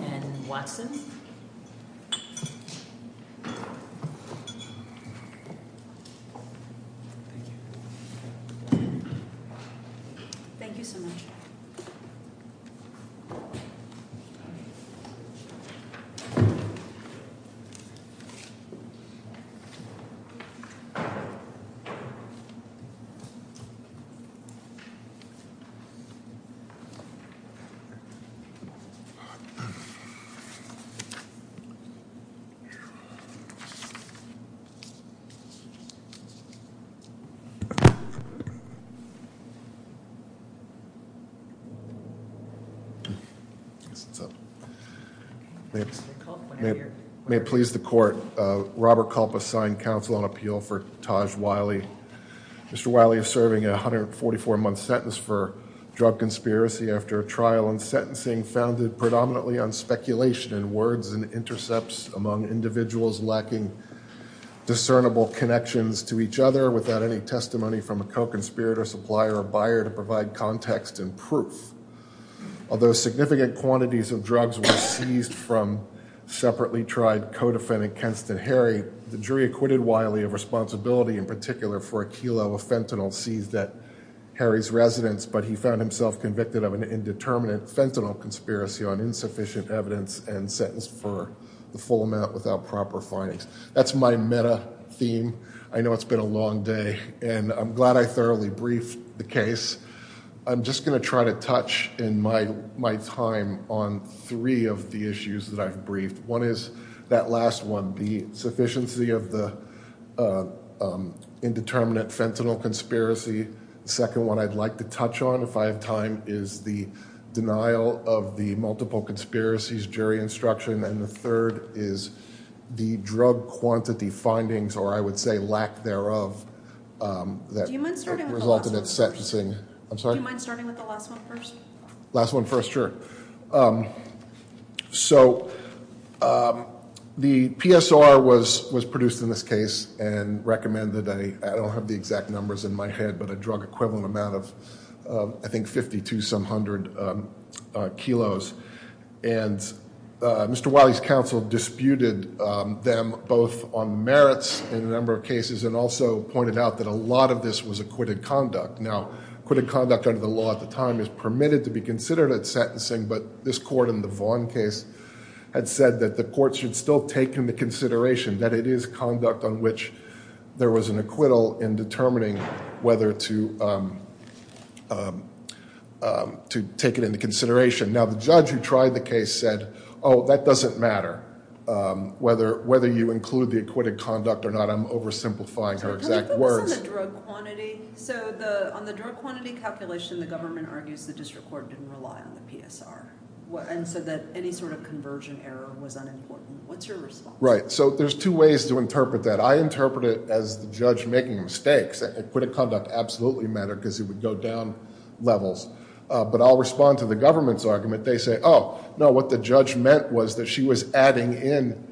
and Watson. Thank you so much. Thank you. May it please the court. Robert Culpa signed counsel on appeal for Taj Wiley. Mr. Wiley is serving a 144-month sentence for drug conspiracy after a trial and sentencing founded predominantly on speculation and words and intercepts among individuals lacking discernible connections to each other without any testimony from a co-conspirator, supplier, or buyer to provide context and proof. Although significant quantities of drugs were seized from separately tried co-defendant Kenston Harry, the jury acquitted Wiley of responsibility in particular for a kilo of fentanyl seized at Harry's residence, but he found himself convicted of an indeterminate fentanyl conspiracy on insufficient evidence and sentenced for the full amount without proper findings. That's my meta theme. I know it's been a long day, and I'm glad I thoroughly briefed the case. I'm just going to try to touch in my time on three of the issues that I've briefed. One is that last one, the sufficiency of the indeterminate fentanyl conspiracy. The second one I'd like to touch on, if I have time, is the denial of the multiple conspiracies jury instruction. And the third is the drug quantity findings, or I would say lack thereof, that resulted in sentencing. I'm sorry? Do you mind starting with the last one first? Last one first, sure. So the PSR was produced in this case and recommended, I don't have the exact numbers in my head, but a drug equivalent amount of I think 50 to some hundred kilos. And Mr. Wiley's counsel disputed them both on merits in a number of cases and also pointed out that a lot of this was acquitted conduct. Now, acquitted conduct under the law at the time is permitted to be considered at sentencing, but this court in the Vaughn case had said that the court should still take into consideration that it is conduct on which there was an acquittal in determining whether to take it into consideration. Now, the judge who tried the case said, oh, that doesn't matter whether you include the acquitted conduct or not. I'm oversimplifying her exact words. It was on the drug quantity. So on the drug quantity calculation, the government argues the district court didn't rely on the PSR and said that any sort of conversion error was unimportant. What's your response? Right. So there's two ways to interpret that. I interpret it as the judge making mistakes. Acquitted conduct absolutely mattered because it would go down levels. But I'll respond to the government's argument. They say, oh, no, what the judge meant was that she was adding in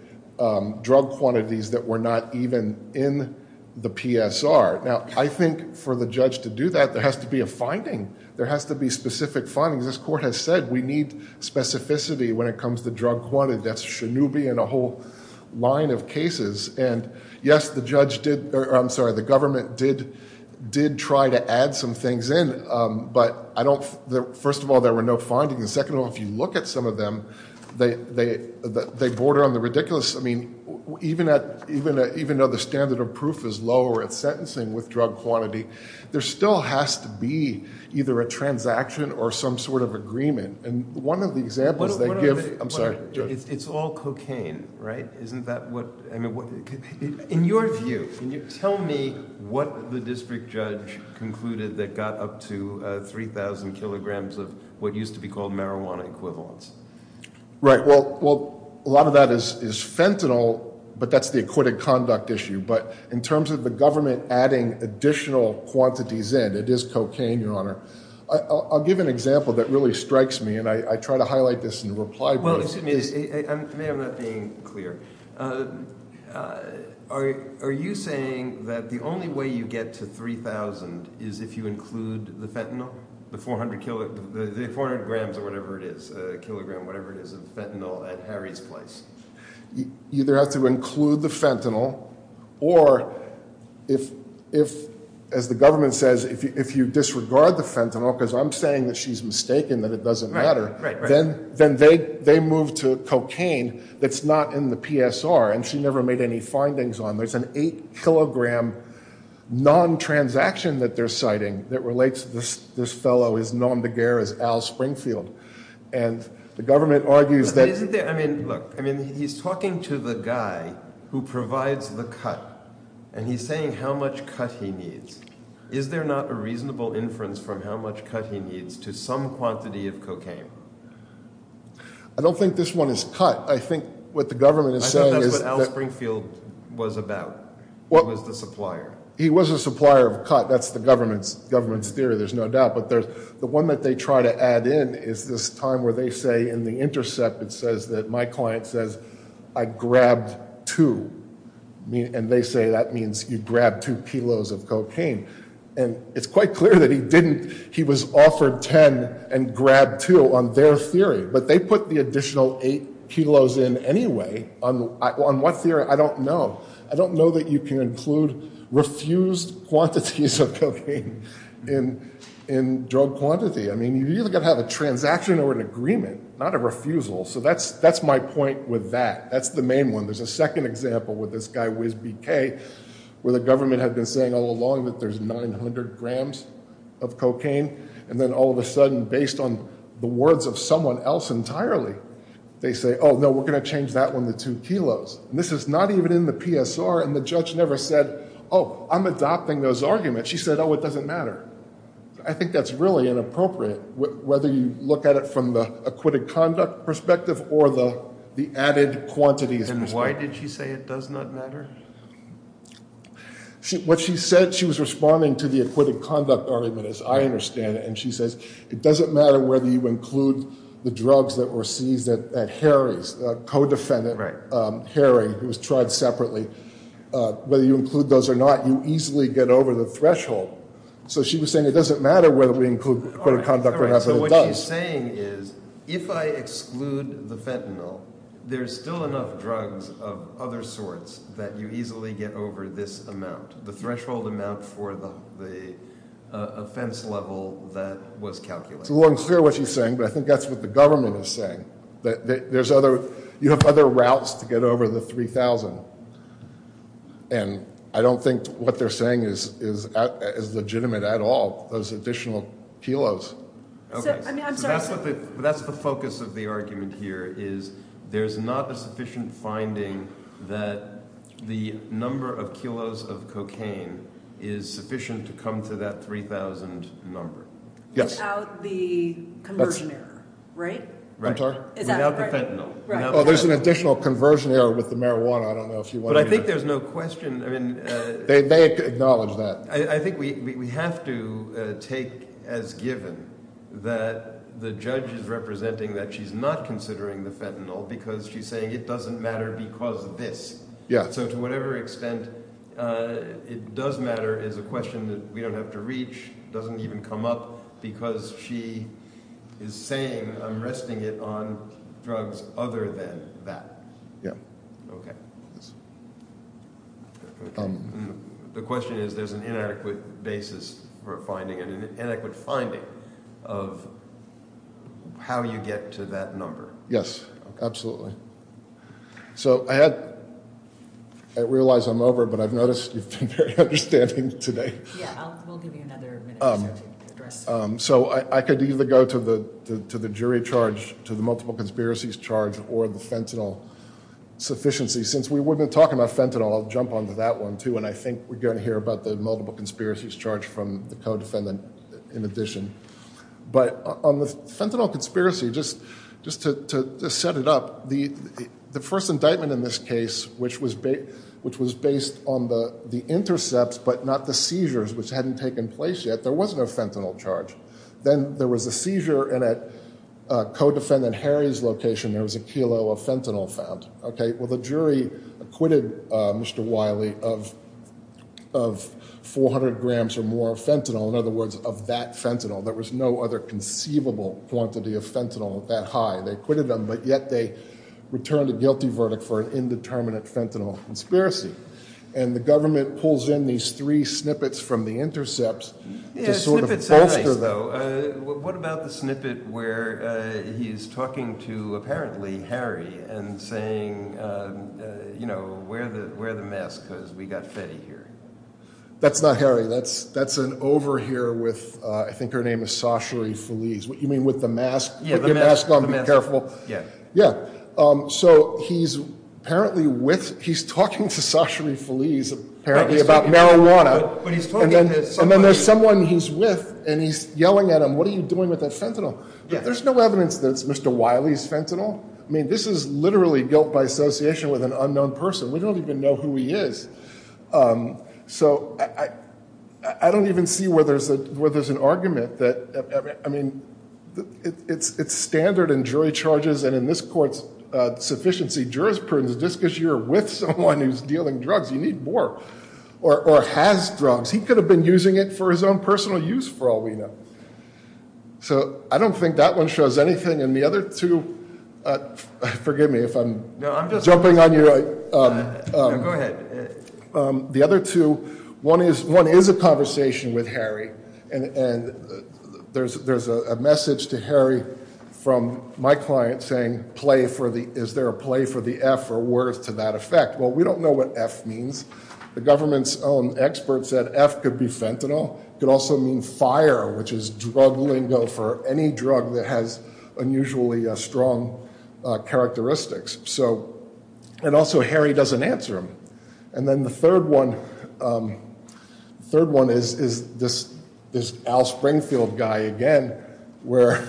drug quantities that were not even in the PSR. Now, I think for the judge to do that, there has to be a finding. There has to be specific findings. This court has said we need specificity when it comes to drug quantity. That's Shinobi and a whole line of cases. And, yes, the government did try to add some things in, but first of all, there were no findings. Second of all, if you look at some of them, they border on the ridiculous... I mean, even though the standard of proof is lower at sentencing with drug quantity, there still has to be either a transaction or some sort of agreement. And one of the examples they give... I'm sorry. It's all cocaine, right? Isn't that what... I mean, in your view, tell me what the district judge concluded that got up to 3,000 kilograms of what used to be called marijuana equivalents. Right. Well, a lot of that is fentanyl, but that's the acquitted conduct issue. But in terms of the government adding additional quantities in, it is cocaine, Your Honor. I'll give an example that really strikes me, and I try to highlight this in the reply brief. Well, excuse me. To me, I'm not being clear. Are you saying that the only way you get to 3,000 is if you include the fentanyl, the 400 grams or whatever it is, a kilogram, whatever it is of fentanyl at Harry's Place? You either have to include the fentanyl, or if, as the government says, if you disregard the fentanyl, because I'm saying that she's mistaken, that it doesn't matter... Right, right, right.... then they move to cocaine that's not in the PSR, and she never made any findings on it. There's an eight-kilogram non-transaction that they're citing that relates to this fellow as nondegair as Al Springfield. And the government argues that... But isn't there... I mean, look, he's talking to the guy who provides the cut, and he's saying how much cut he needs. Is there not a reasonable inference from how much cut he needs to some quantity of cocaine? I don't think this one is cut. I think what the government is saying is... I think that's what Al Springfield was about. He was the supplier. He was a supplier of cut. That's the government's theory, there's no doubt. But the one that they try to add in is this time where they say in the intercept, it says that my client says, I grabbed two. And they say that means you grabbed two kilos of cocaine. And it's quite clear that he didn't. He was offered ten and grabbed two on their theory. But they put the additional eight kilos in anyway. On what theory? I don't know. I don't know that you can include refused quantities of cocaine in drug quantity. I mean, you've either got to have a transaction or an agreement, not a refusal. So that's my point with that. That's the main one. There's a second example with this guy, Whiz BK, where the government had been saying all along that there's 900 grams of cocaine. And then all of a sudden, based on the words of someone else entirely, they say, oh, no, we're going to change that one to two kilos. And this is not even in the PSR. And the judge never said, oh, I'm adopting those arguments. She said, oh, it doesn't matter. I think that's really inappropriate, whether you look at it from the acquitted conduct perspective or the added quantities. And why did she say it does not matter? What she said, she was responding to the acquitted conduct argument, as I understand it. And she says, it doesn't matter whether you include the drugs that were seized at Harry's, co-defendant Harry, who was tried separately. Whether you include those or not, you easily get over the threshold. So she was saying it doesn't matter whether we include acquitted conduct or not, but it does. So what she's saying is, if I exclude the fentanyl, there's still enough drugs of other sorts that you easily get over this amount, the threshold amount for the offense level that was calculated. It's a little unclear what she's saying, but I think that's what the government is saying. You have other routes to get over the 3,000. And I don't think what they're saying is legitimate at all, those additional kilos. That's the focus of the argument here is there's not a sufficient finding that the number of kilos of cocaine is sufficient to come to that 3,000 number. Yes. Without the conversion error, right? I'm sorry? Without the fentanyl. There's an additional conversion error with the marijuana. I don't know if you want to – But I think there's no question. They acknowledge that. I think we have to take as given that the judge is representing that she's not considering the fentanyl because she's saying it doesn't matter because of this. So to whatever extent it does matter is a question that we don't have to reach, doesn't even come up, because she is saying I'm resting it on drugs other than that. Yes. Okay. The question is there's an inadequate basis for a finding and an inadequate finding of how you get to that number. Absolutely. So I had – I realize I'm over, but I've noticed you've been very understanding today. Yeah. We'll give you another minute or so to address – So I could either go to the jury charge, to the multiple conspiracies charge, or the fentanyl sufficiency. Since we've been talking about fentanyl, I'll jump onto that one, too, and I think we're going to hear about the multiple conspiracies charge from the co-defendant in addition. But on the fentanyl conspiracy, just to set it up, the first indictment in this case, which was based on the intercepts but not the seizures, which hadn't taken place yet, there was no fentanyl charge. Then there was a seizure, and at co-defendant Harry's location, there was a kilo of fentanyl found. Okay. Well, the jury acquitted Mr. Wiley of 400 grams or more of fentanyl, in other words, of that fentanyl. There was no other conceivable quantity of fentanyl that high. They acquitted him, but yet they returned a guilty verdict for an indeterminate fentanyl conspiracy. And the government pulls in these three snippets from the intercepts to sort of bolster, though. Yeah, the snippets are nice, though. What about the snippet where he's talking to, apparently, Harry, and saying, you know, wear the mask because we've got Fetty here? That's not Harry. That's an over here with, I think her name is Sashary Feliz. You mean with the mask? Yeah, the mask. Put your mask on. Yeah. So he's apparently with, he's talking to Sashary Feliz, apparently, about marijuana, and then there's someone he's with, and he's yelling at him, what are you doing with that fentanyl? There's no evidence that it's Mr. Wiley's fentanyl. I mean, this is literally guilt by association with an unknown person. We don't even know who he is. So I don't even see where there's an argument that, I mean, it's standard in jury charges and in this court's sufficiency jurisprudence, just because you're with someone who's dealing drugs, you need more, or has drugs. He could have been using it for his own personal use, for all we know. So I don't think that one shows anything. And the other two, forgive me if I'm jumping on you. No, go ahead. The other two, one is a conversation with Harry, and there's a message to Harry from my client saying play for the, is there a play for the F or words to that effect? Well, we don't know what F means. The government's own experts said F could be fentanyl. It could also mean fire, which is drug lingo for any drug that has unusually strong characteristics. And also Harry doesn't answer them. And then the third one is this Al Springfield guy again, where,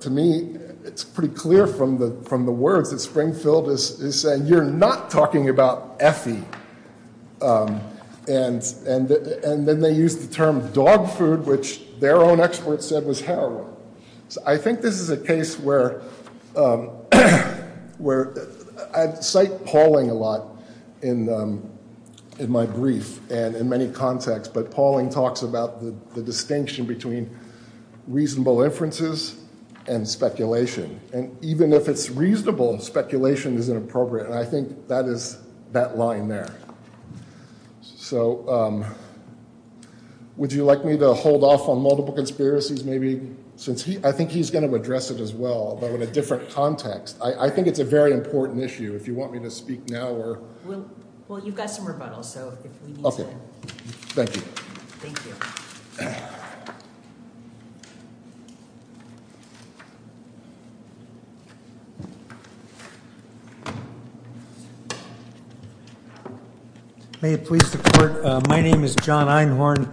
to me, it's pretty clear from the words that Springfield is saying, you're not talking about Effie. And then they use the term dog food, which their own experts said was heroin. So I think this is a case where I cite Pauling a lot in my brief and in many contexts, but Pauling talks about the distinction between reasonable inferences and speculation. And even if it's reasonable, speculation isn't appropriate, and I think that is that line there. So would you like me to hold off on multiple conspiracies maybe, since I think he's going to address it as well, but in a different context. I think it's a very important issue. If you want me to speak now or. Well, you've got some rebuttals, so if we need to. Thank you. Thank you. May it please the court. My name is John Einhorn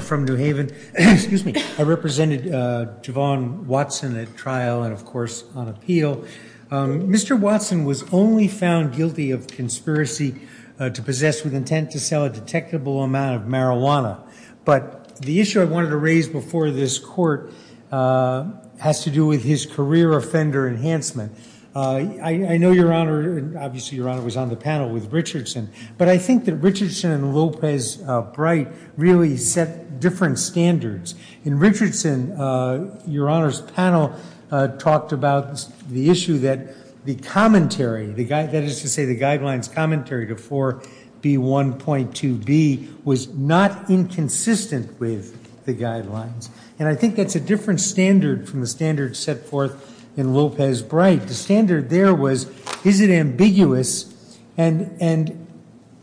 from New Haven. Excuse me. I represented Javon Watson at trial and, of course, on appeal. Mr. Watson was only found guilty of conspiracy to possess with intent to sell a detectable amount of marijuana. But the issue I wanted to raise before this court has to do with his career offender enhancement. I know, Your Honor, and obviously Your Honor was on the panel with Richardson, but I think that Richardson and Lopez-Bright really set different standards. In Richardson, Your Honor's panel talked about the issue that the commentary, that is to say the guidelines commentary to 4B1.2b, was not inconsistent with the guidelines. And I think that's a different standard from the standard set forth in Lopez-Bright. The standard there was is it ambiguous and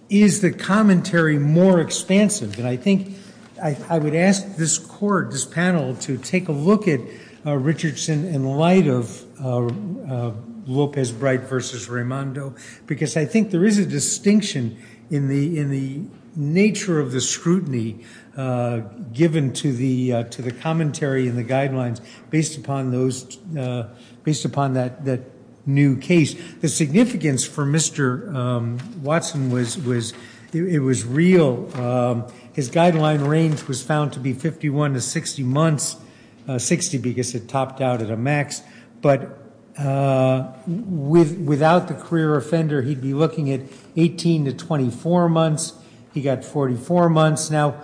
is the commentary more expansive? And I think I would ask this court, this panel, to take a look at Richardson in light of Lopez-Bright v. Raimondo, because I think there is a distinction in the nature of the scrutiny given to the commentary and the guidelines based upon that new case. The significance for Mr. Watson was it was real. His guideline range was found to be 51 to 60 months, 60 because it topped out at a max. But without the career offender, he'd be looking at 18 to 24 months. He got 44 months. Now,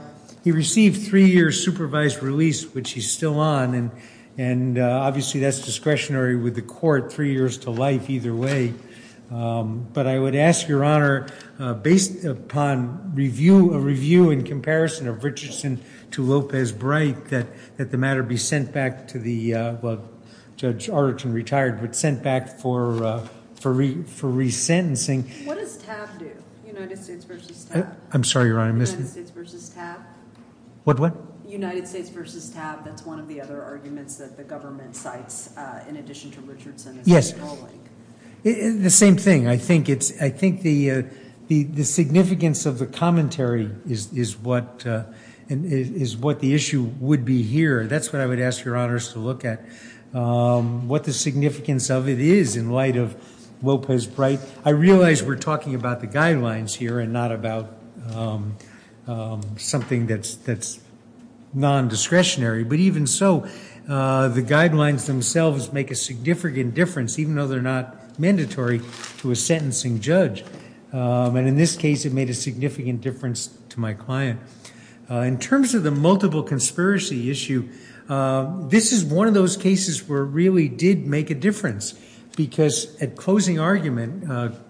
he received three years supervised release, which he's still on, and obviously that's discretionary with the court, three years to life either way. But I would ask, Your Honor, based upon a review in comparison of Richardson to Lopez-Bright, that the matter be sent back to the, well, Judge Arderton retired, but sent back for resentencing. What does TAB do, United States v. TAB? I'm sorry, Your Honor. United States v. TAB? What, what? United States v. TAB, that's one of the other arguments that the government cites in addition to Richardson. Yes. The same thing. I think the significance of the commentary is what the issue would be here. That's what I would ask Your Honors to look at, what the significance of it is in light of Lopez-Bright. I realize we're talking about the guidelines here and not about something that's nondiscretionary. But even so, the guidelines themselves make a significant difference, even though they're not mandatory to a sentencing judge. And in this case, it made a significant difference to my client. In terms of the multiple conspiracy issue, this is one of those cases where it really did make a difference. Because at closing argument,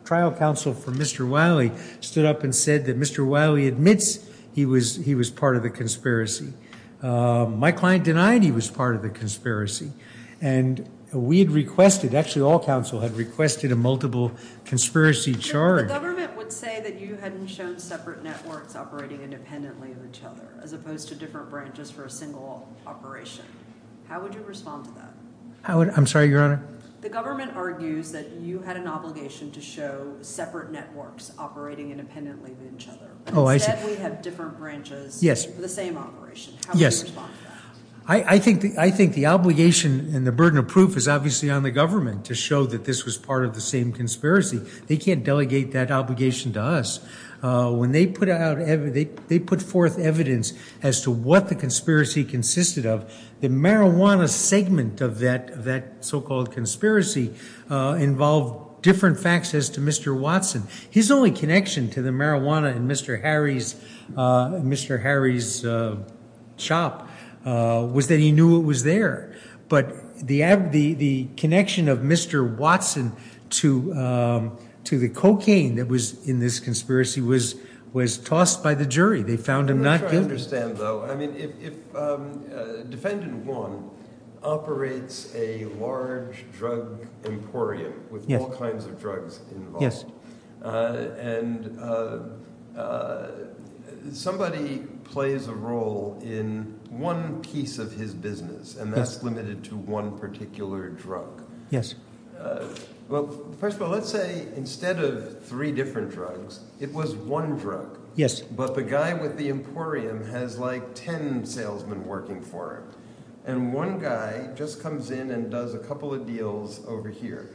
trial counsel for Mr. Wiley stood up and said that Mr. Wiley admits he was part of the conspiracy. My client denied he was part of the conspiracy. And we had requested, actually all counsel had requested a multiple conspiracy charge. The government would say that you hadn't shown separate networks operating independently of each other, as opposed to different branches for a single operation. How would you respond to that? I'm sorry, Your Honor? The government argues that you had an obligation to show separate networks operating independently of each other. Oh, I see. But we have different branches for the same operation. How would you respond to that? I think the obligation and the burden of proof is obviously on the government to show that this was part of the same conspiracy. They can't delegate that obligation to us. When they put forth evidence as to what the conspiracy consisted of, the marijuana segment of that so-called conspiracy involved different facts as to Mr. Watson. His only connection to the marijuana in Mr. Harry's shop was that he knew it was there. But the connection of Mr. Watson to the cocaine that was in this conspiracy was tossed by the jury. They found him not guilty. I don't understand, though. I mean, if defendant 1 operates a large drug emporium with all kinds of drugs involved, and somebody plays a role in one piece of his business, and that's limited to one particular drug. Well, first of all, let's say instead of three different drugs, it was one drug. Yes. But the guy with the emporium has like ten salesmen working for him. And one guy just comes in and does a couple of deals over here.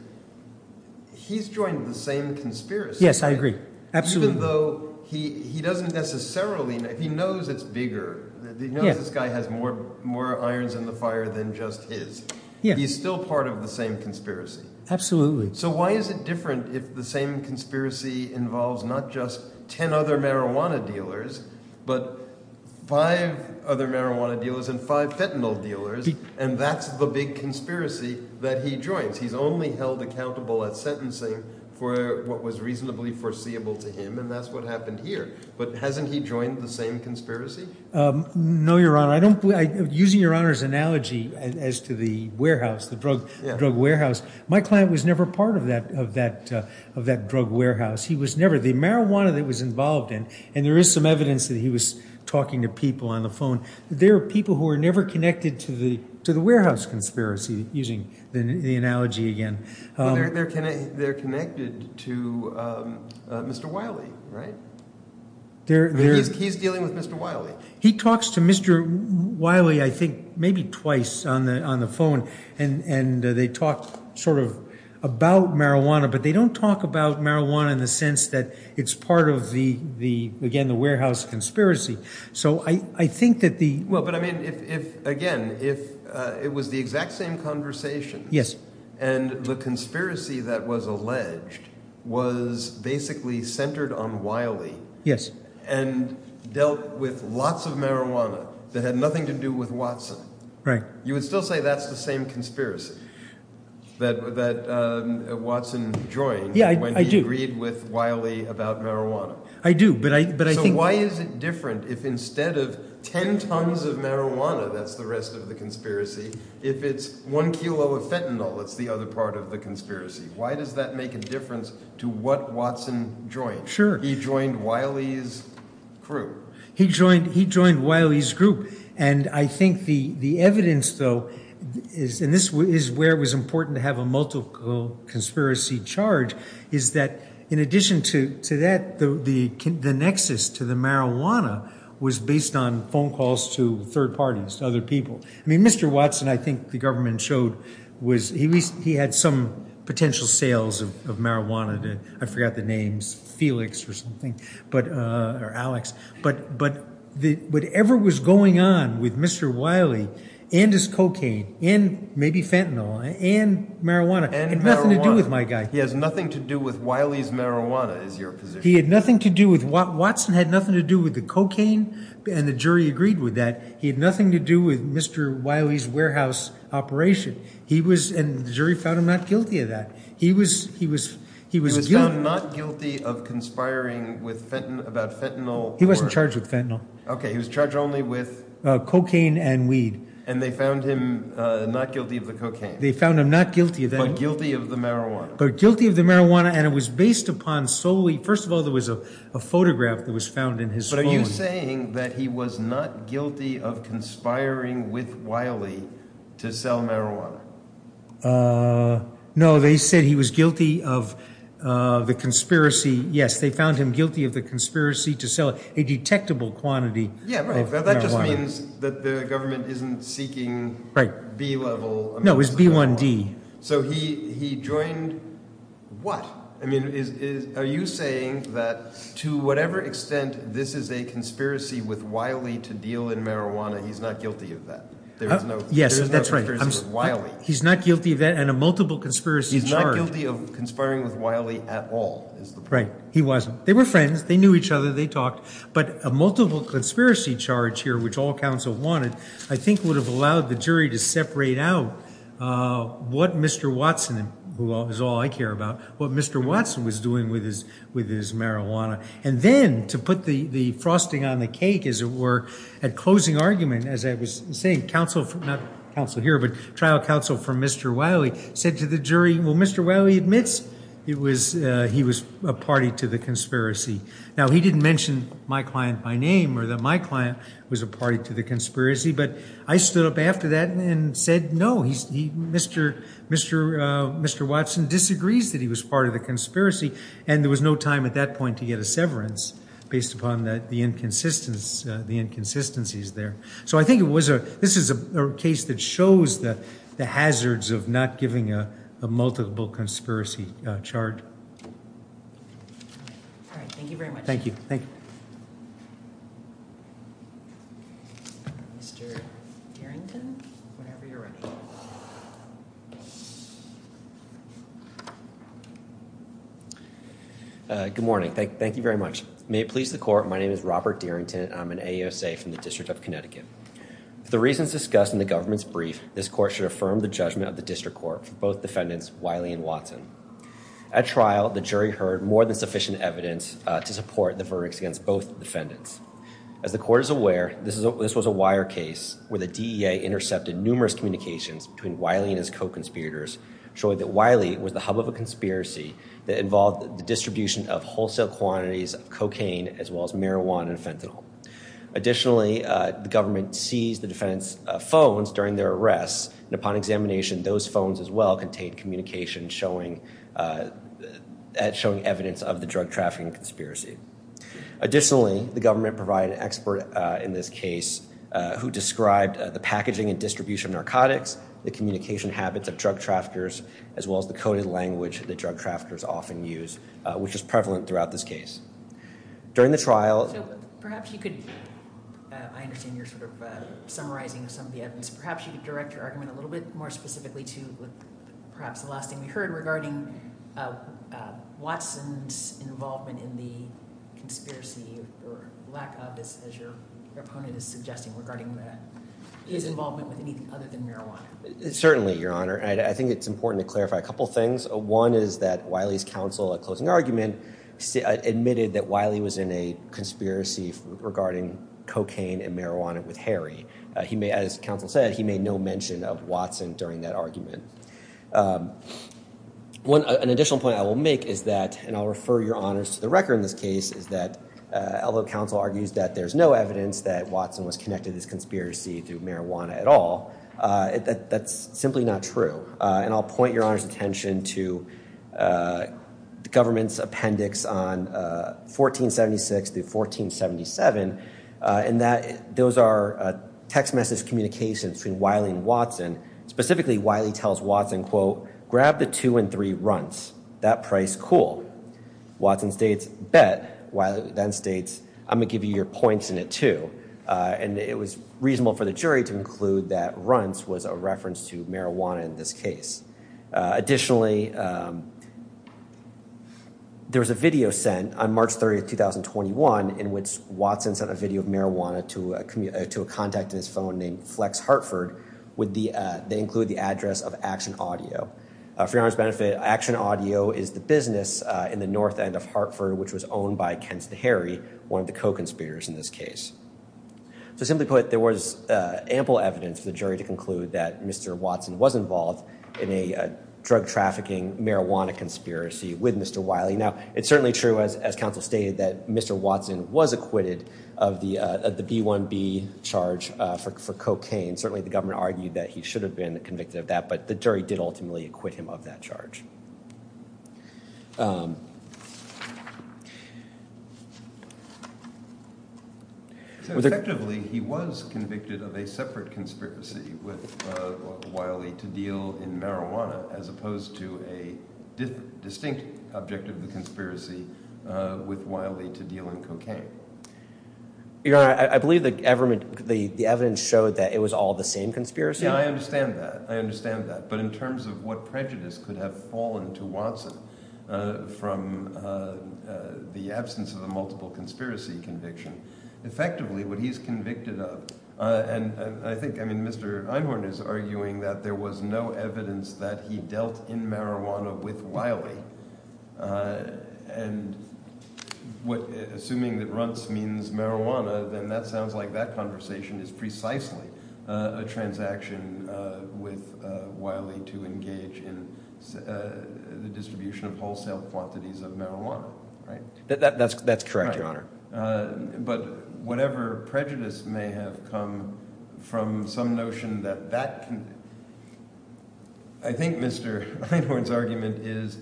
He's joined the same conspiracy. Yes, I agree. Absolutely. Even though he doesn't necessarily know. He knows it's bigger. He knows this guy has more irons in the fire than just his. He's still part of the same conspiracy. Absolutely. So why is it different if the same conspiracy involves not just ten other marijuana dealers, but five other marijuana dealers and five fentanyl dealers, and that's the big conspiracy that he joins? He's only held accountable at sentencing for what was reasonably foreseeable to him, and that's what happened here. But hasn't he joined the same conspiracy? No, Your Honor. Using Your Honor's analogy as to the warehouse, the drug warehouse, my client was never part of that drug warehouse. He was never. The marijuana that he was involved in, and there is some evidence that he was talking to people on the phone, there are people who are never connected to the warehouse conspiracy, using the analogy again. They're connected to Mr. Wiley, right? He's dealing with Mr. Wiley. He talks to Mr. Wiley I think maybe twice on the phone, and they talk sort of about marijuana, but they don't talk about marijuana in the sense that it's part of the, again, the warehouse conspiracy. So I think that the – Well, but I mean if, again, if it was the exact same conversation and the conspiracy that was alleged was basically centered on Wiley Yes. and dealt with lots of marijuana that had nothing to do with Watson. Right. You would still say that's the same conspiracy that Watson joined when he agreed with Wiley about marijuana. I do, but I think – So why is it different if instead of ten tons of marijuana, that's the rest of the conspiracy, if it's one kilo of fentanyl that's the other part of the conspiracy? Why does that make a difference to what Watson joined? Sure. He joined Wiley's group. He joined Wiley's group, and I think the evidence, though, is – and this is where it was important to have a multiple conspiracy charge – is that in addition to that, the nexus to the marijuana was based on phone calls to third parties, to other people. I mean Mr. Watson I think the government showed was – I forgot the names, Felix or something, or Alex. But whatever was going on with Mr. Wiley and his cocaine and maybe fentanyl and marijuana had nothing to do with my guy. He has nothing to do with Wiley's marijuana is your position. He had nothing to do with – Watson had nothing to do with the cocaine, and the jury agreed with that. He had nothing to do with Mr. Wiley's warehouse operation, and the jury found him not guilty of that. He was found not guilty of conspiring about fentanyl. He wasn't charged with fentanyl. Okay, he was charged only with – Cocaine and weed. And they found him not guilty of the cocaine. They found him not guilty of that. But guilty of the marijuana. But guilty of the marijuana, and it was based upon solely – first of all, there was a photograph that was found in his phone. But are you saying that he was not guilty of conspiring with Wiley to sell marijuana? No, they said he was guilty of the conspiracy. Yes, they found him guilty of the conspiracy to sell a detectable quantity of marijuana. Yeah, but that just means that the government isn't seeking B-level amounts of marijuana. No, it's B1D. So he joined what? I mean, are you saying that to whatever extent this is a conspiracy with Wiley to deal in marijuana, he's not guilty of that? Yes, that's right. He's not guilty of that and a multiple conspiracy charge. He's not guilty of conspiring with Wiley at all. Right, he wasn't. They were friends. They knew each other. They talked. But a multiple conspiracy charge here, which all counsel wanted, I think would have allowed the jury to separate out what Mr. Watson, who is all I care about, what Mr. Watson was doing with his marijuana. And then to put the frosting on the cake, as it were, at closing argument, as I was saying, trial counsel for Mr. Wiley said to the jury, well, Mr. Wiley admits he was a party to the conspiracy. Now, he didn't mention my client by name or that my client was a party to the conspiracy, but I stood up after that and said no. Mr. Watson disagrees that he was part of the conspiracy and there was no time at that point to get a severance based upon the inconsistencies there. So I think this is a case that shows the hazards of not giving a multiple conspiracy charge. All right, thank you very much. Thank you. Thank you. Mr. Darrington, whenever you're ready. Good morning. Thank you very much. May it please the court. My name is Robert Darrington. I'm an AUSA from the District of Connecticut. For the reasons discussed in the government's brief, this court should affirm the judgment of the district court for both defendants Wiley and Watson. At trial, the jury heard more than sufficient evidence to support the verdicts against both defendants. As the court is aware, this was a wire case where the DEA intercepted numerous communications between Wiley and his co-conspirators showing that Wiley was the hub of a conspiracy that involved the distribution of wholesale quantities of cocaine as well as marijuana and fentanyl. Additionally, the government seized the defendants' phones during their arrests, and upon examination, those phones as well contained communication showing evidence of the drug trafficking conspiracy. Additionally, the government provided an expert in this case who described the packaging and distribution of narcotics, the communication habits of drug traffickers, as well as the coded language that drug traffickers often use, which is prevalent throughout this case. During the trial... So perhaps you could... I understand you're sort of summarizing some of the evidence. Perhaps you could direct your argument a little bit more specifically to perhaps the last thing we heard regarding Watson's involvement in the conspiracy or lack of, as your opponent is suggesting, regarding his involvement with anything other than marijuana. Certainly, Your Honor. I think it's important to clarify a couple things. One is that Wiley's counsel, at closing argument, admitted that Wiley was in a conspiracy regarding cocaine and marijuana with Harry. As counsel said, he made no mention of Watson during that argument. An additional point I will make is that, and I'll refer Your Honors to the record in this case, is that although counsel argues that there's no evidence that Watson was connected to this conspiracy through marijuana at all, that's simply not true. And I'll point Your Honor's attention to the government's appendix on 1476 through 1477. And those are text message communications between Wiley and Watson. Specifically, Wiley tells Watson, quote, grab the two and three runts. That price cool. Watson states, bet. Wiley then states, I'm going to give you your points in it too. And it was reasonable for the jury to conclude that runts was a reference to marijuana in this case. Additionally, there was a video sent on March 30, 2021, in which Watson sent a video of marijuana to a contact in his phone named Flex Hartford. They include the address of Action Audio. For Your Honor's benefit, Action Audio is the business in the north end of Hartford, which was owned by Kenseth Harry, one of the co-conspirators in this case. So simply put, there was ample evidence for the jury to conclude that Mr. Watson was involved in a drug trafficking marijuana conspiracy with Mr. Wiley. Now, it's certainly true, as counsel stated, that Mr. Watson was acquitted of the B1B charge for cocaine. Certainly, the government argued that he should have been convicted of that, but the jury did ultimately acquit him of that charge. So effectively, he was convicted of a separate conspiracy with Wiley to deal in marijuana, as opposed to a distinct objective of the conspiracy with Wiley to deal in cocaine. Your Honor, I believe the evidence showed that it was all the same conspiracy. Yeah, I understand that. I understand that. But in terms of what prejudice could have fallen to Watson from the absence of a multiple conspiracy conviction, effectively what he's convicted of – I think Mr. Einhorn is arguing that there was no evidence that he dealt in marijuana with Wiley. And assuming that runts means marijuana, then that sounds like that conversation is precisely a transaction with Wiley to engage in the distribution of wholesale quantities of marijuana. That's correct, Your Honor. But whatever prejudice may have come from some notion that that – I think Mr. Einhorn's argument is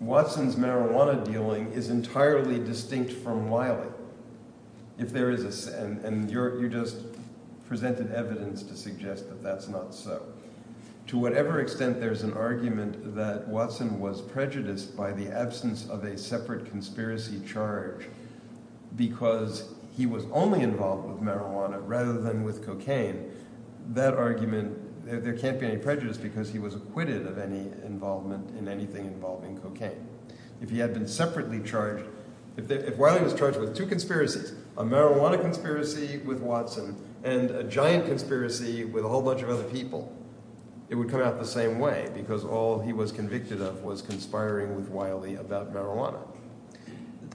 Watson's marijuana dealing is entirely distinct from Wiley. If there is a – and you just presented evidence to suggest that that's not so. To whatever extent there's an argument that Watson was prejudiced by the absence of a separate conspiracy charge because he was only involved with marijuana rather than with cocaine, that argument – there can't be any prejudice because he was acquitted of any involvement in anything involving cocaine. If he had been separately charged – if Wiley was charged with two conspiracies, a marijuana conspiracy with Watson and a giant conspiracy with a whole bunch of other people, it would come out the same way because all he was convicted of was conspiring with Wiley about marijuana.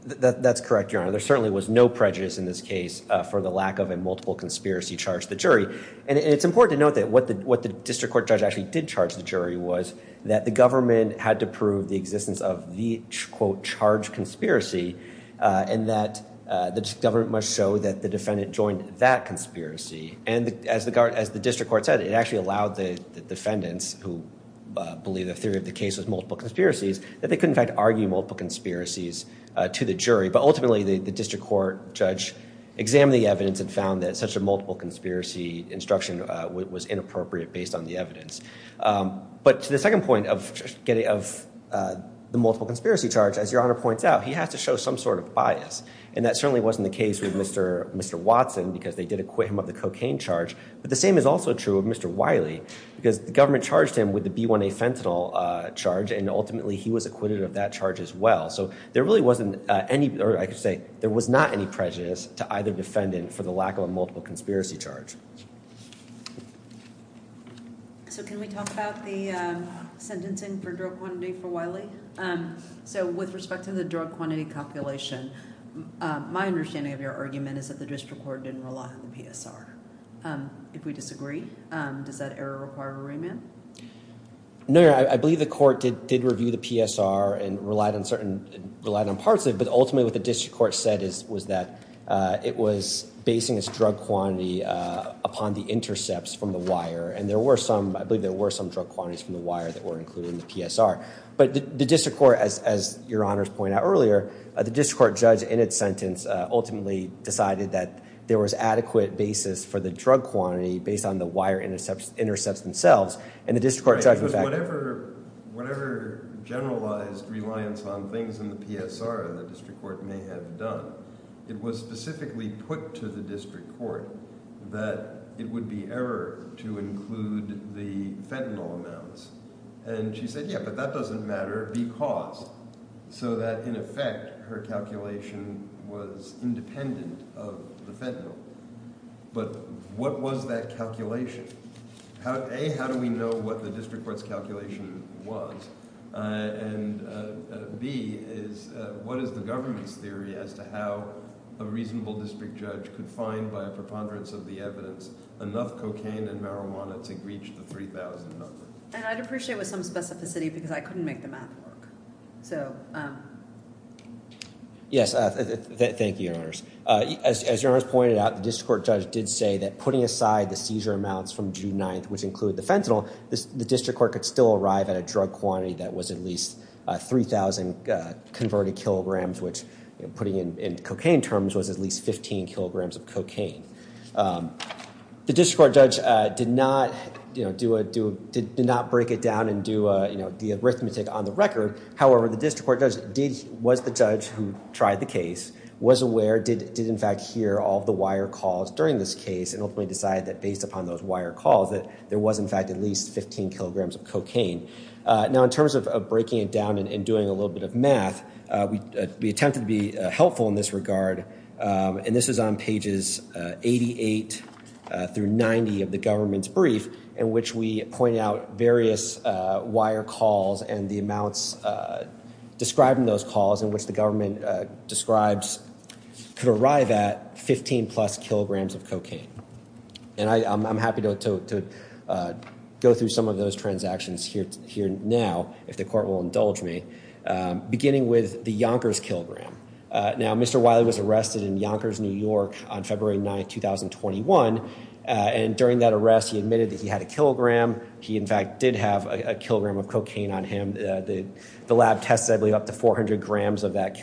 That's correct, Your Honor. There certainly was no prejudice in this case for the lack of a multiple conspiracy charge to the jury. And it's important to note that what the district court judge actually did charge the jury was that the government had to prove the existence of the, quote, charged conspiracy and that the government must show that the defendant joined that conspiracy. And as the district court said, it actually allowed the defendants who believe the theory of the case was multiple conspiracies that they could, in fact, argue multiple conspiracies to the jury. But ultimately, the district court judge examined the evidence and found that such a multiple conspiracy instruction was inappropriate based on the evidence. But to the second point of the multiple conspiracy charge, as Your Honor points out, he has to show some sort of bias. And that certainly wasn't the case with Mr. Watson because they did acquit him of the cocaine charge. But the same is also true of Mr. Wiley because the government charged him with the B1A fentanyl charge and ultimately he was acquitted of that charge as well. So there really wasn't any – or I could say there was not any prejudice to either defendant for the lack of a multiple conspiracy charge. So can we talk about the sentencing for drug quantity for Wiley? So with respect to the drug quantity calculation, my understanding of your argument is that the district court didn't rely on the PSR. If we disagree, does that error require a remand? No, Your Honor. I believe the court did review the PSR and relied on certain – relied on parts of it. But ultimately what the district court said was that it was basing its drug quantity upon the intercepts from the wire. And there were some – I believe there were some drug quantities from the wire that were included in the PSR. But the district court, as Your Honor has pointed out earlier, the district court judge in its sentence ultimately decided that there was adequate basis for the drug quantity based on the wire intercepts themselves. And the district court judge – Whatever generalized reliance on things in the PSR the district court may have done, it was specifically put to the district court that it would be error to include the fentanyl amounts. And she said, yeah, but that doesn't matter because – so that in effect her calculation was independent of the fentanyl. But what was that calculation? A, how do we know what the district court's calculation was? And B is what is the government's theory as to how a reasonable district judge could find by a preponderance of the evidence enough cocaine and marijuana to reach the 3,000 number? And I'd appreciate with some specificity because I couldn't make the math work. Yes, thank you, Your Honors. As Your Honors pointed out, the district court judge did say that putting aside the seizure amounts from June 9th, which include the fentanyl, the district court could still arrive at a drug quantity that was at least 3,000 converted kilograms, which putting in cocaine terms was at least 15 kilograms of cocaine. The district court judge did not break it down and do the arithmetic on the record. However, the district court judge was the judge who tried the case, was aware, did in fact hear all of the wire calls during this case and ultimately decided that based upon those wire calls that there was in fact at least 15 kilograms of cocaine. Now in terms of breaking it down and doing a little bit of math, we attempted to be helpful in this regard, and this is on pages 88 through 90 of the government's brief in which we pointed out various wire calls and the amounts describing those calls in which the government describes could arrive at 15 plus kilograms of cocaine. And I'm happy to go through some of those transactions here now, if the court will indulge me, beginning with the Yonkers kilogram. Now Mr. Wiley was arrested in Yonkers, New York on February 9th, 2021, and during that arrest he admitted that he had a kilogram. He in fact did have a kilogram of cocaine on him. The lab tested I believe up to 400 grams of that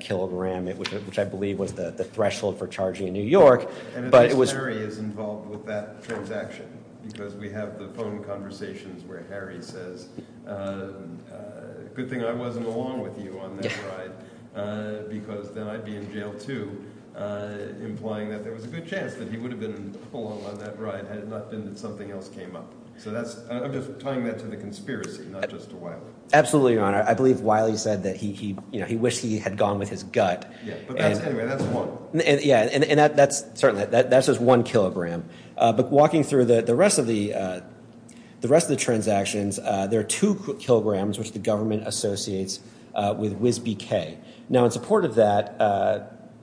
kilogram, which I believe was the threshold for charging in New York. And at least Harry is involved with that transaction, because we have the phone conversations where Harry says, good thing I wasn't along with you on that ride, because then I'd be in jail too, implying that there was a good chance that he would have been along on that ride had it not been that something else came up. So that's – I'm just tying that to the conspiracy, not just to Wiley. Absolutely, Your Honor. I believe Wiley said that he wished he had gone with his gut. Yeah, but that's – anyway, that's one. Yeah, and that's – certainly, that's just one kilogram. But walking through the rest of the transactions, there are two kilograms which the government associates with WSBK. Now in support of that,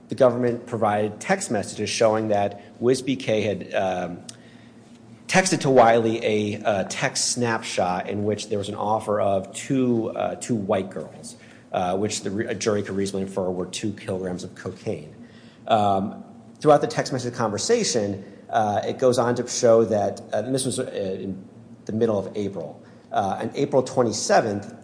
the government provided text messages showing that WSBK had texted to Wiley a text snapshot in which there was an offer of two white girls, which a jury could reasonably infer were two kilograms of cocaine. Throughout the text message conversation, it goes on to show that – and this was in the middle of April. On April 27th,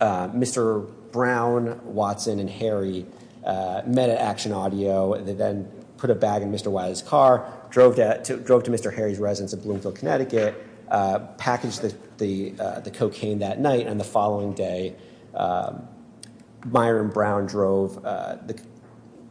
Mr. Brown, Watson, and Harry met at Action Audio. They then put a bag in Mr. Wiley's car, drove to Mr. Harry's residence in Bloomfield, Connecticut, packaged the cocaine that night. And the following day, Myron Brown drove –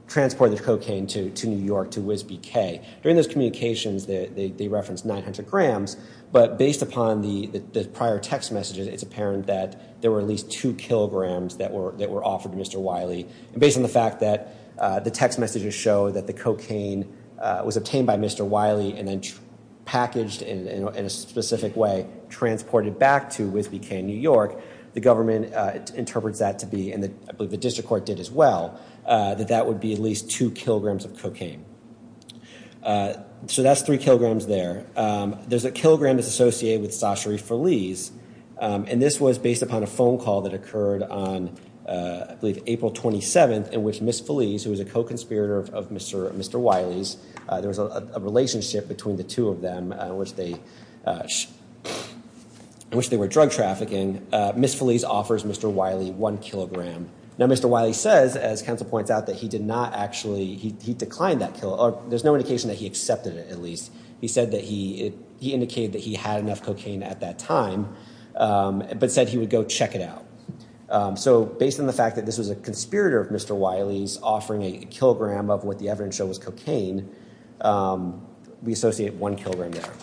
transported the cocaine to New York to WSBK. During those communications, they referenced 900 grams. But based upon the prior text messages, it's apparent that there were at least two kilograms that were offered to Mr. Wiley. And based on the fact that the text messages show that the cocaine was obtained by Mr. Wiley and then packaged in a specific way, transported back to WSBK in New York, the government interprets that to be – and I believe the district court did as well – that that would be at least two kilograms of cocaine. So that's three kilograms there. There's a kilogram that's associated with Sachery Feliz. And this was based upon a phone call that occurred on, I believe, April 27th in which Ms. Feliz, who was a co-conspirator of Mr. Wiley's – there was a relationship between the two of them in which they were drug trafficking. Ms. Feliz offers Mr. Wiley one kilogram. Now, Mr. Wiley says, as counsel points out, that he did not actually – he declined that – or there's no indication that he accepted it at least. He said that he – he indicated that he had enough cocaine at that time but said he would go check it out. So based on the fact that this was a conspirator of Mr. Wiley's offering a kilogram of what the evidence showed was cocaine, we associate one kilogram there.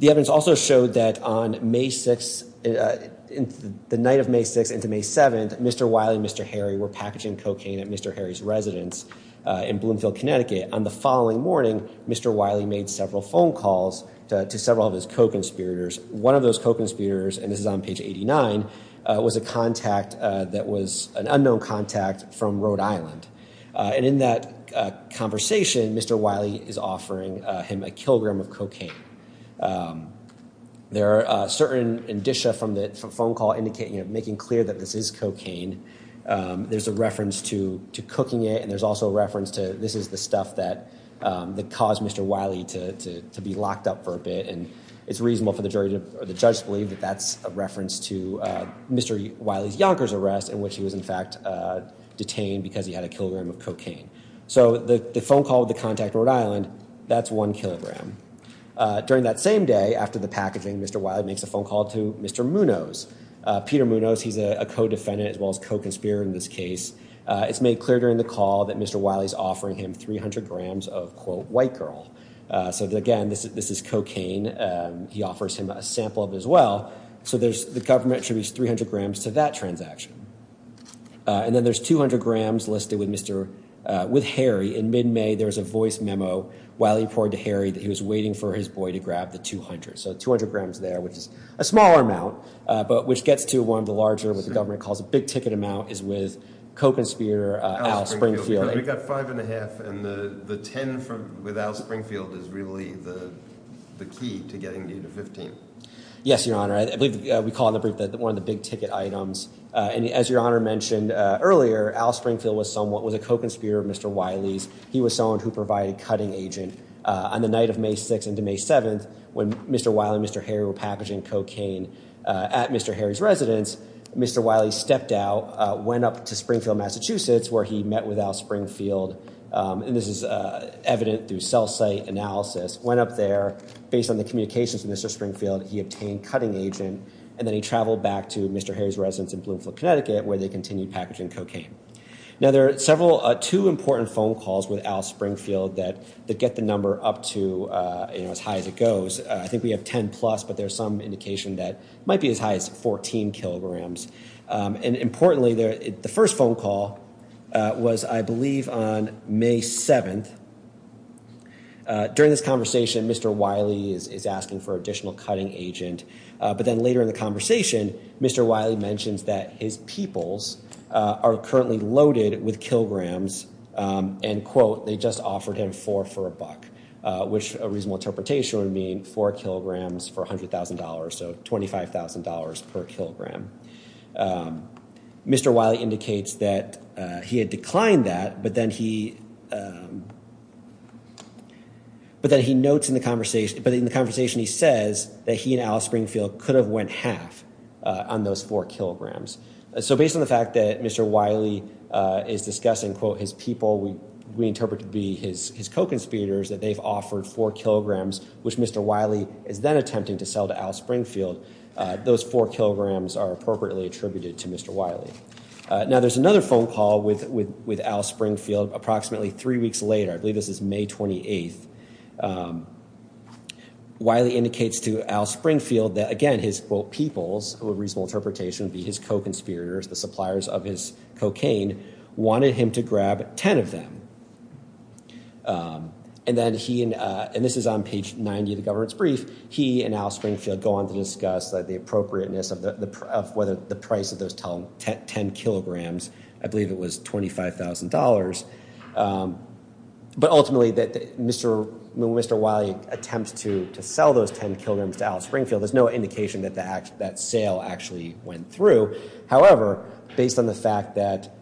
The evidence also showed that on May 6th – the night of May 6th into May 7th, Mr. Wiley and Mr. Harry were packaging cocaine at Mr. Harry's residence in Bloomfield, Connecticut. On the following morning, Mr. Wiley made several phone calls to several of his co-conspirators. One of those co-conspirators – and this is on page 89 – was a contact that was an unknown contact from Rhode Island. And in that conversation, Mr. Wiley is offering him a kilogram of cocaine. There are certain indicia from the phone call indicating – making clear that this is cocaine. There's a reference to cooking it and there's also a reference to this is the stuff that caused Mr. Wiley to be locked up for a bit. And it's reasonable for the judge to believe that that's a reference to Mr. Wiley's Yonkers arrest in which he was in fact detained because he had a kilogram of cocaine. So the phone call with the contact in Rhode Island, that's one kilogram. During that same day, after the packaging, Mr. Wiley makes a phone call to Mr. Munoz. Peter Munoz, he's a co-defendant as well as co-conspirator in this case. It's made clear during the call that Mr. Wiley's offering him 300 grams of, quote, white girl. So again, this is cocaine. He offers him a sample of it as well. So there's – the government attributes 300 grams to that transaction. And then there's 200 grams listed with Mr. – with Harry. In mid-May, there was a voice memo Wiley poured to Harry that he was waiting for his boy to grab the 200. So 200 grams there, which is a smaller amount, but which gets to one of the larger, what the government calls a big ticket amount, is with co-conspirator Al Springfield. We've got five and a half, and the 10 with Al Springfield is really the key to getting you to 15. Yes, Your Honor. I believe we call it in the brief one of the big ticket items. And as Your Honor mentioned earlier, Al Springfield was somewhat – was a co-conspirator of Mr. Wiley's. He was someone who provided cutting agent. On the night of May 6th into May 7th, when Mr. Wiley and Mr. Harry were packaging cocaine at Mr. Harry's residence, Mr. Wiley stepped out, went up to Springfield, Massachusetts, where he met with Al Springfield. And this is evident through cell site analysis. Went up there. Based on the communications with Mr. Springfield, he obtained cutting agent, and then he traveled back to Mr. Harry's residence in Bloomfield, Connecticut, where they continued packaging cocaine. Now, there are several – two important phone calls with Al Springfield that get the number up to as high as it goes. I think we have 10-plus, but there's some indication that it might be as high as 14 kilograms. And importantly, the first phone call was, I believe, on May 7th. During this conversation, Mr. Wiley is asking for additional cutting agent. But then later in the conversation, Mr. Wiley mentions that his peoples are currently loaded with kilograms and, quote, they just offered him four for a buck, which a reasonable interpretation would mean four kilograms for $100,000, so $25,000 per kilogram. Mr. Wiley indicates that he had declined that, but then he notes in the conversation – but in the conversation he says that he and Al Springfield could have went half on those four kilograms. So based on the fact that Mr. Wiley is discussing, quote, his people we interpret to be his co-conspirators, that they've offered four kilograms, which Mr. Wiley is then attempting to sell to Al Springfield, those four kilograms are appropriately attributed to Mr. Wiley. Now, there's another phone call with Al Springfield approximately three weeks later. I believe this is May 28th. Wiley indicates to Al Springfield that, again, his, quote, peoples, a reasonable interpretation would be his co-conspirators, the suppliers of his cocaine, wanted him to grab ten of them. And then he – and this is on page 90 of the government's brief. He and Al Springfield go on to discuss the appropriateness of whether the price of those ten kilograms, I believe it was $25,000. But ultimately when Mr. Wiley attempts to sell those ten kilograms to Al Springfield, there's no indication that that sale actually went through. However, based on the fact that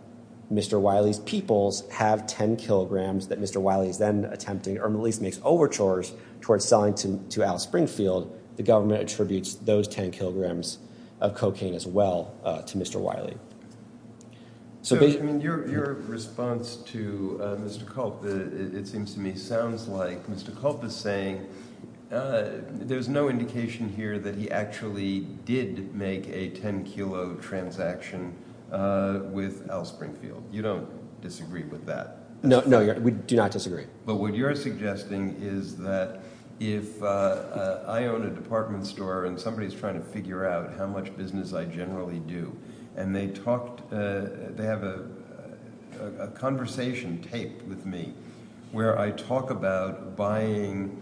Mr. Wiley's peoples have ten kilograms that Mr. Wiley is then attempting or at least makes overtures towards selling to Al Springfield, the government attributes those ten kilograms of cocaine as well to Mr. Wiley. So your response to Mr. Culp, it seems to me, sounds like Mr. Culp is saying there's no indication here that he actually did make a ten kilo transaction with Al Springfield. You don't disagree with that? No, we do not disagree. But what you're suggesting is that if I own a department store and somebody is trying to figure out how much business I generally do and they talk – they have a conversation taped with me where I talk about buying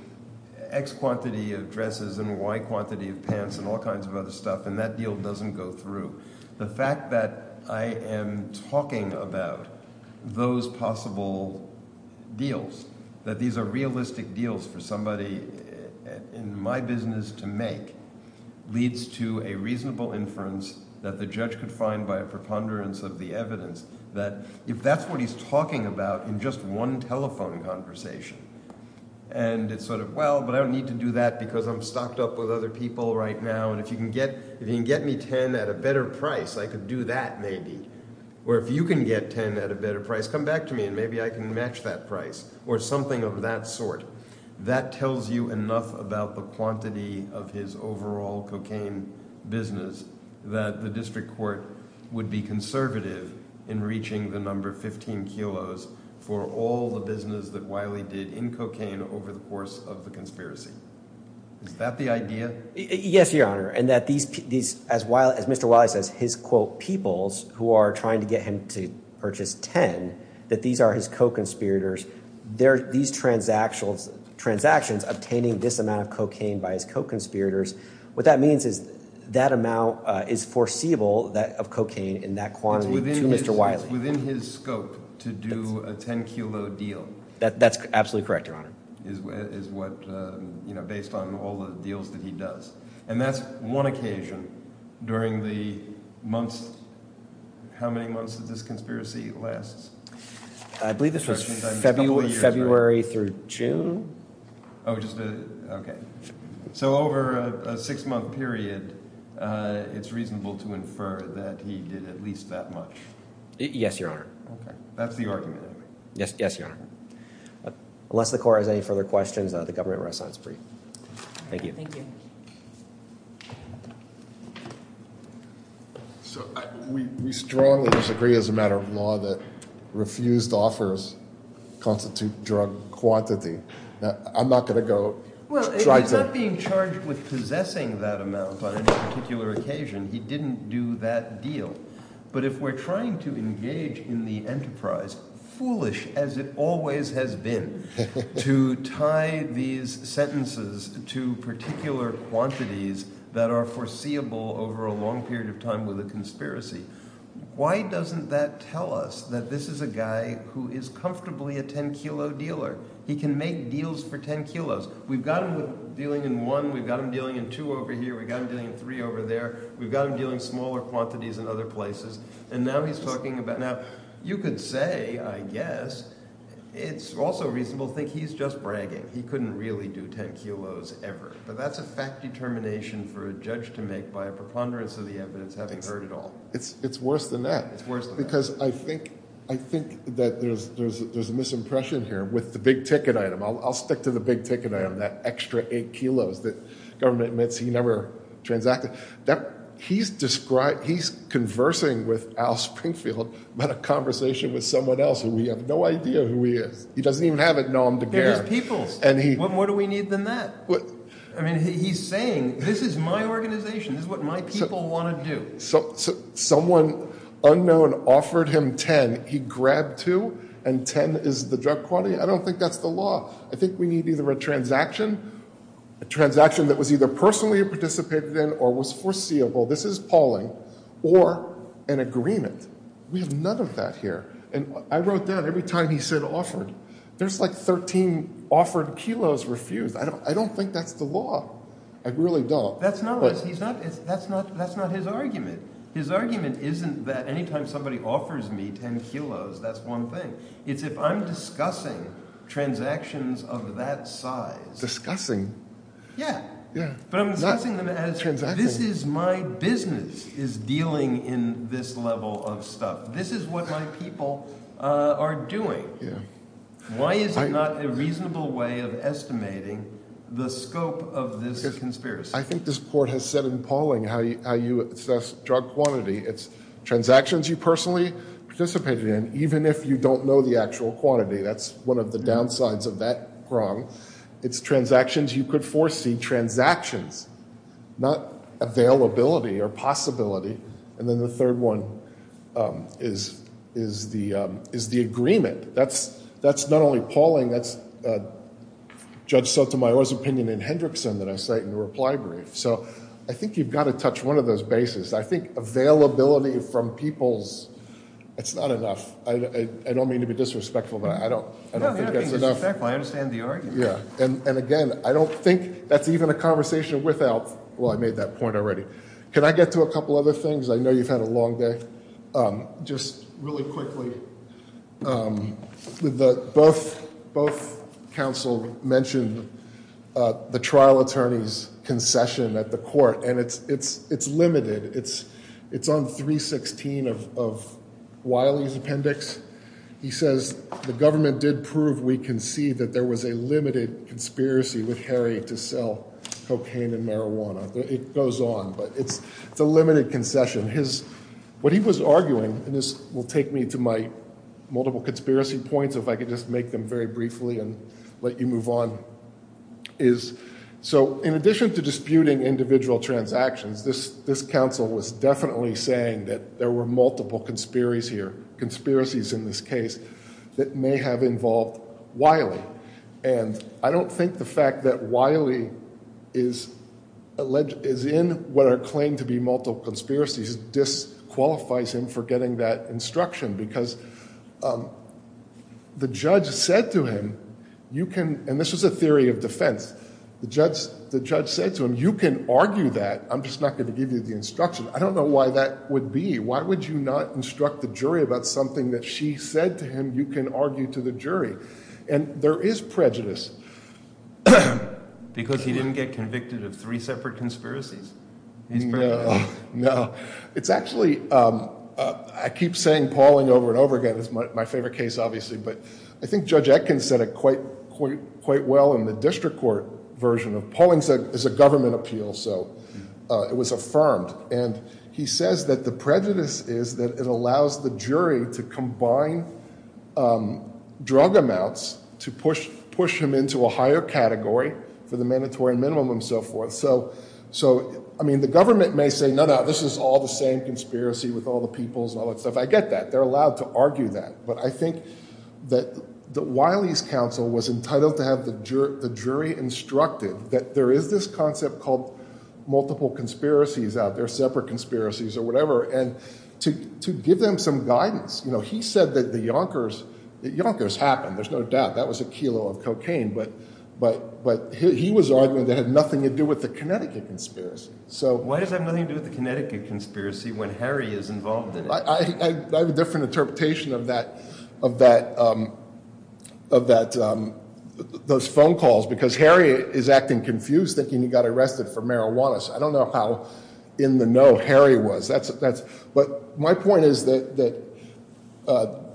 X quantity of dresses and Y quantity of pants and all kinds of other stuff and that deal doesn't go through, the fact that I am talking about those possible deals, that these are realistic deals for somebody in my business to make, leads to a reasonable inference that the judge could find by a preponderance of the evidence that if that's what he's talking about in just one telephone conversation and it's sort of, well, but I don't need to do that because I'm stocked up with other people right now and if you can get me ten at a better price, I could do that maybe. Or if you can get ten at a better price, come back to me and maybe I can match that price or something of that sort. That tells you enough about the quantity of his overall cocaine business that the district court would be conservative in reaching the number 15 kilos for all the business that Wiley did in cocaine over the course of the conspiracy. Is that the idea? Yes, Your Honor, and that these, as Mr. Wiley says, his quote peoples who are trying to get him to purchase ten, that these are his co-conspirators, these transactions obtaining this amount of cocaine by his co-conspirators, what that means is that amount is foreseeable of cocaine in that quantity to Mr. Wiley. It's within his scope to do a ten kilo deal. That's absolutely correct, Your Honor. Is what, you know, based on all the deals that he does. And that's one occasion during the months, how many months did this conspiracy last? I believe this was February through June. Oh, just a, okay. So over a six month period, it's reasonable to infer that he did at least that much. Yes, Your Honor. Okay, that's the argument I make. Yes, Your Honor. Unless the court has any further questions, the government rests on its feet. Thank you. Thank you. So we strongly disagree as a matter of law that refused offers constitute drug quantity. I'm not going to go try to. Well, he's not being charged with possessing that amount on any particular occasion. He didn't do that deal. But if we're trying to engage in the enterprise, foolish as it always has been to tie these sentences to particular quantities that are foreseeable over a long period of time with a conspiracy. Why doesn't that tell us that this is a guy who is comfortably a ten kilo dealer? He can make deals for ten kilos. We've got him dealing in one. We've got him dealing in two over here. We've got him dealing in three over there. We've got him dealing in smaller quantities in other places. And now he's talking about – now you could say, I guess, it's also reasonable to think he's just bragging. He couldn't really do ten kilos ever. But that's a fact determination for a judge to make by a preponderance of the evidence having heard it all. It's worse than that. It's worse than that. Because I think that there's a misimpression here with the big ticket item. I'll stick to the big ticket item, that extra eight kilos that government admits he never transacted. He's conversing with Al Springfield about a conversation with someone else who we have no idea who he is. He doesn't even have a nom de guerre. They're just peoples. What more do we need than that? I mean he's saying this is my organization. This is what my people want to do. Someone unknown offered him ten. He grabbed two, and ten is the drug quantity? I don't think that's the law. I think we need either a transaction, a transaction that was either personally participated in or was foreseeable. This is Pauling. Or an agreement. We have none of that here. And I wrote down every time he said offered, there's like 13 offered kilos refused. I don't think that's the law. I really don't. That's not his argument. His argument isn't that any time somebody offers me ten kilos, that's one thing. It's if I'm discussing transactions of that size. Discussing? Yeah. Yeah. But I'm discussing them as this is my business is dealing in this level of stuff. This is what my people are doing. Yeah. Why is it not a reasonable way of estimating the scope of this conspiracy? I think this court has said in Pauling how you assess drug quantity. It's transactions you personally participated in, even if you don't know the actual quantity. That's one of the downsides of that prong. It's transactions you could foresee, transactions, not availability or possibility. And then the third one is the agreement. That's not only Pauling. That's Judge Sotomayor's opinion in Hendrickson that I cite in the reply brief. So I think you've got to touch one of those bases. I think availability from people is not enough. I don't mean to be disrespectful, but I don't think that's enough. No, you're not being disrespectful. I understand the argument. Yeah. And, again, I don't think that's even a conversation without – well, I made that point already. Can I get to a couple other things? I know you've had a long day. Just really quickly, both counsel mentioned the trial attorney's concession at the court, and it's limited. It's on 316 of Wiley's appendix. He says the government did prove we can see that there was a limited conspiracy with Harry to sell cocaine and marijuana. It goes on, but it's a limited concession. What he was arguing, and this will take me to my multiple conspiracy points if I could just make them very briefly and let you move on, is – so in addition to disputing individual transactions, this counsel was definitely saying that there were multiple conspiracies in this case that may have involved Wiley. And I don't think the fact that Wiley is in what are claimed to be multiple conspiracies disqualifies him for getting that instruction because the judge said to him you can – and this was a theory of defense. The judge said to him you can argue that. I'm just not going to give you the instruction. I don't know why that would be. Why would you not instruct the jury about something that she said to him you can argue to the jury? And there is prejudice. Because he didn't get convicted of three separate conspiracies. No, no. It's actually – I keep saying Pauling over and over again. It's my favorite case obviously, but I think Judge Atkins said it quite well in the district court version of – Pauling said it was a government appeal, so it was affirmed. And he says that the prejudice is that it allows the jury to combine drug amounts to push him into a higher category for the mandatory minimum and so forth. So, I mean, the government may say, no, no, this is all the same conspiracy with all the peoples and all that stuff. I get that. They're allowed to argue that. But I think that Wiley's counsel was entitled to have the jury instructed that there is this concept called multiple conspiracies out there, separate conspiracies or whatever, and to give them some guidance. He said that the Yonkers happened. There's no doubt. That was a kilo of cocaine. But he was arguing that it had nothing to do with the Connecticut conspiracy. So – Why does it have nothing to do with the Connecticut conspiracy when Harry is involved in it? I have a different interpretation of that – of that – of that – those phone calls because Harry is acting confused, thinking he got arrested for marijuana. So I don't know how in the know Harry was. That's – but my point is that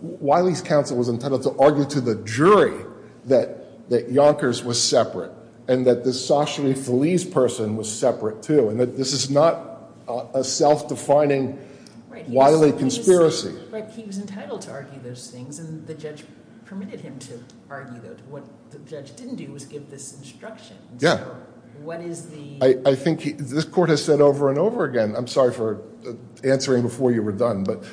Wiley's counsel was entitled to argue to the jury that the Yonkers was separate and that the Saucher-Feliz person was separate, too. And this is not a self-defining Wiley conspiracy. Right. He was entitled to argue those things, and the judge permitted him to argue those. What the judge didn't do was give this instruction. Yeah. So what is the – I think he – this court has said over and over again – I'm sorry for answering before you were done. But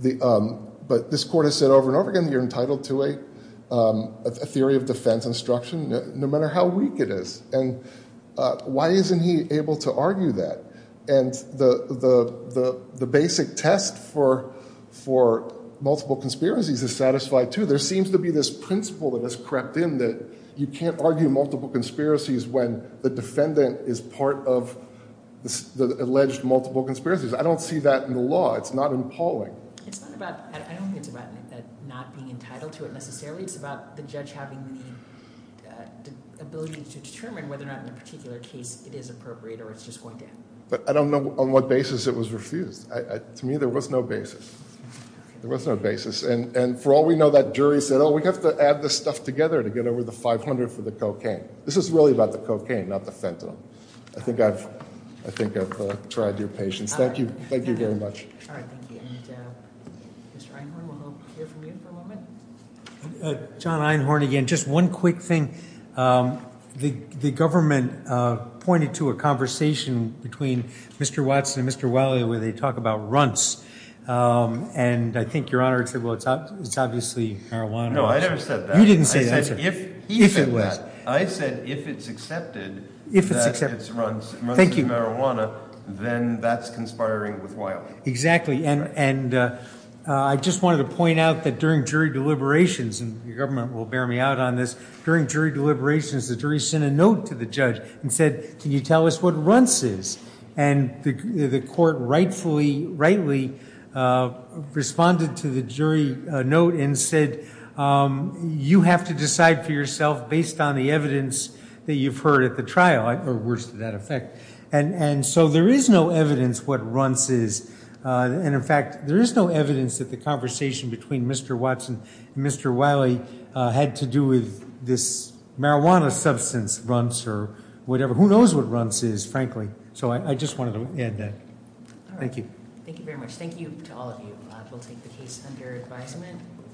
this court has said over and over again that you're entitled to a theory of defense instruction no matter how weak it is. And why isn't he able to argue that? And the basic test for multiple conspiracies is satisfied, too. There seems to be this principle that has crept in that you can't argue multiple conspiracies when the defendant is part of the alleged multiple conspiracies. I don't see that in the law. It's not appalling. It's not about – I don't think it's about not being entitled to it necessarily. It's about the judge having the ability to determine whether or not in a particular case it is appropriate or it's just going to end. But I don't know on what basis it was refused. To me, there was no basis. There was no basis. And for all we know, that jury said, oh, we have to add this stuff together to get over the 500 for the cocaine. This is really about the cocaine, not the fentanyl. I think I've tried your patience. Thank you. Thank you very much. All right. Thank you. Mr. Einhorn, we'll hear from you for a moment. John Einhorn again. Just one quick thing. The government pointed to a conversation between Mr. Watson and Mr. Wiley where they talk about runts. And I think, Your Honor, it's obviously marijuana. No, I never said that. You didn't say that. I said if he said that. If it was. I said if it's accepted that it's runts. Thank you. Runts is marijuana, then that's conspiring with Wiley. Exactly. And I just wanted to point out that during jury deliberations, and the government will bear me out on this, during jury deliberations, the jury sent a note to the judge and said, can you tell us what runts is? And the court rightfully, rightly responded to the jury note and said, you have to decide for yourself based on the evidence that you've heard at the trial, or worse to that effect. And so there is no evidence what runts is. And, in fact, there is no evidence that the conversation between Mr. Watson and Mr. Wiley had to do with this marijuana substance, runts, or whatever. Who knows what runts is, frankly? So I just wanted to add that. Thank you. Thank you very much. Thank you to all of you. We'll take the case under advisement.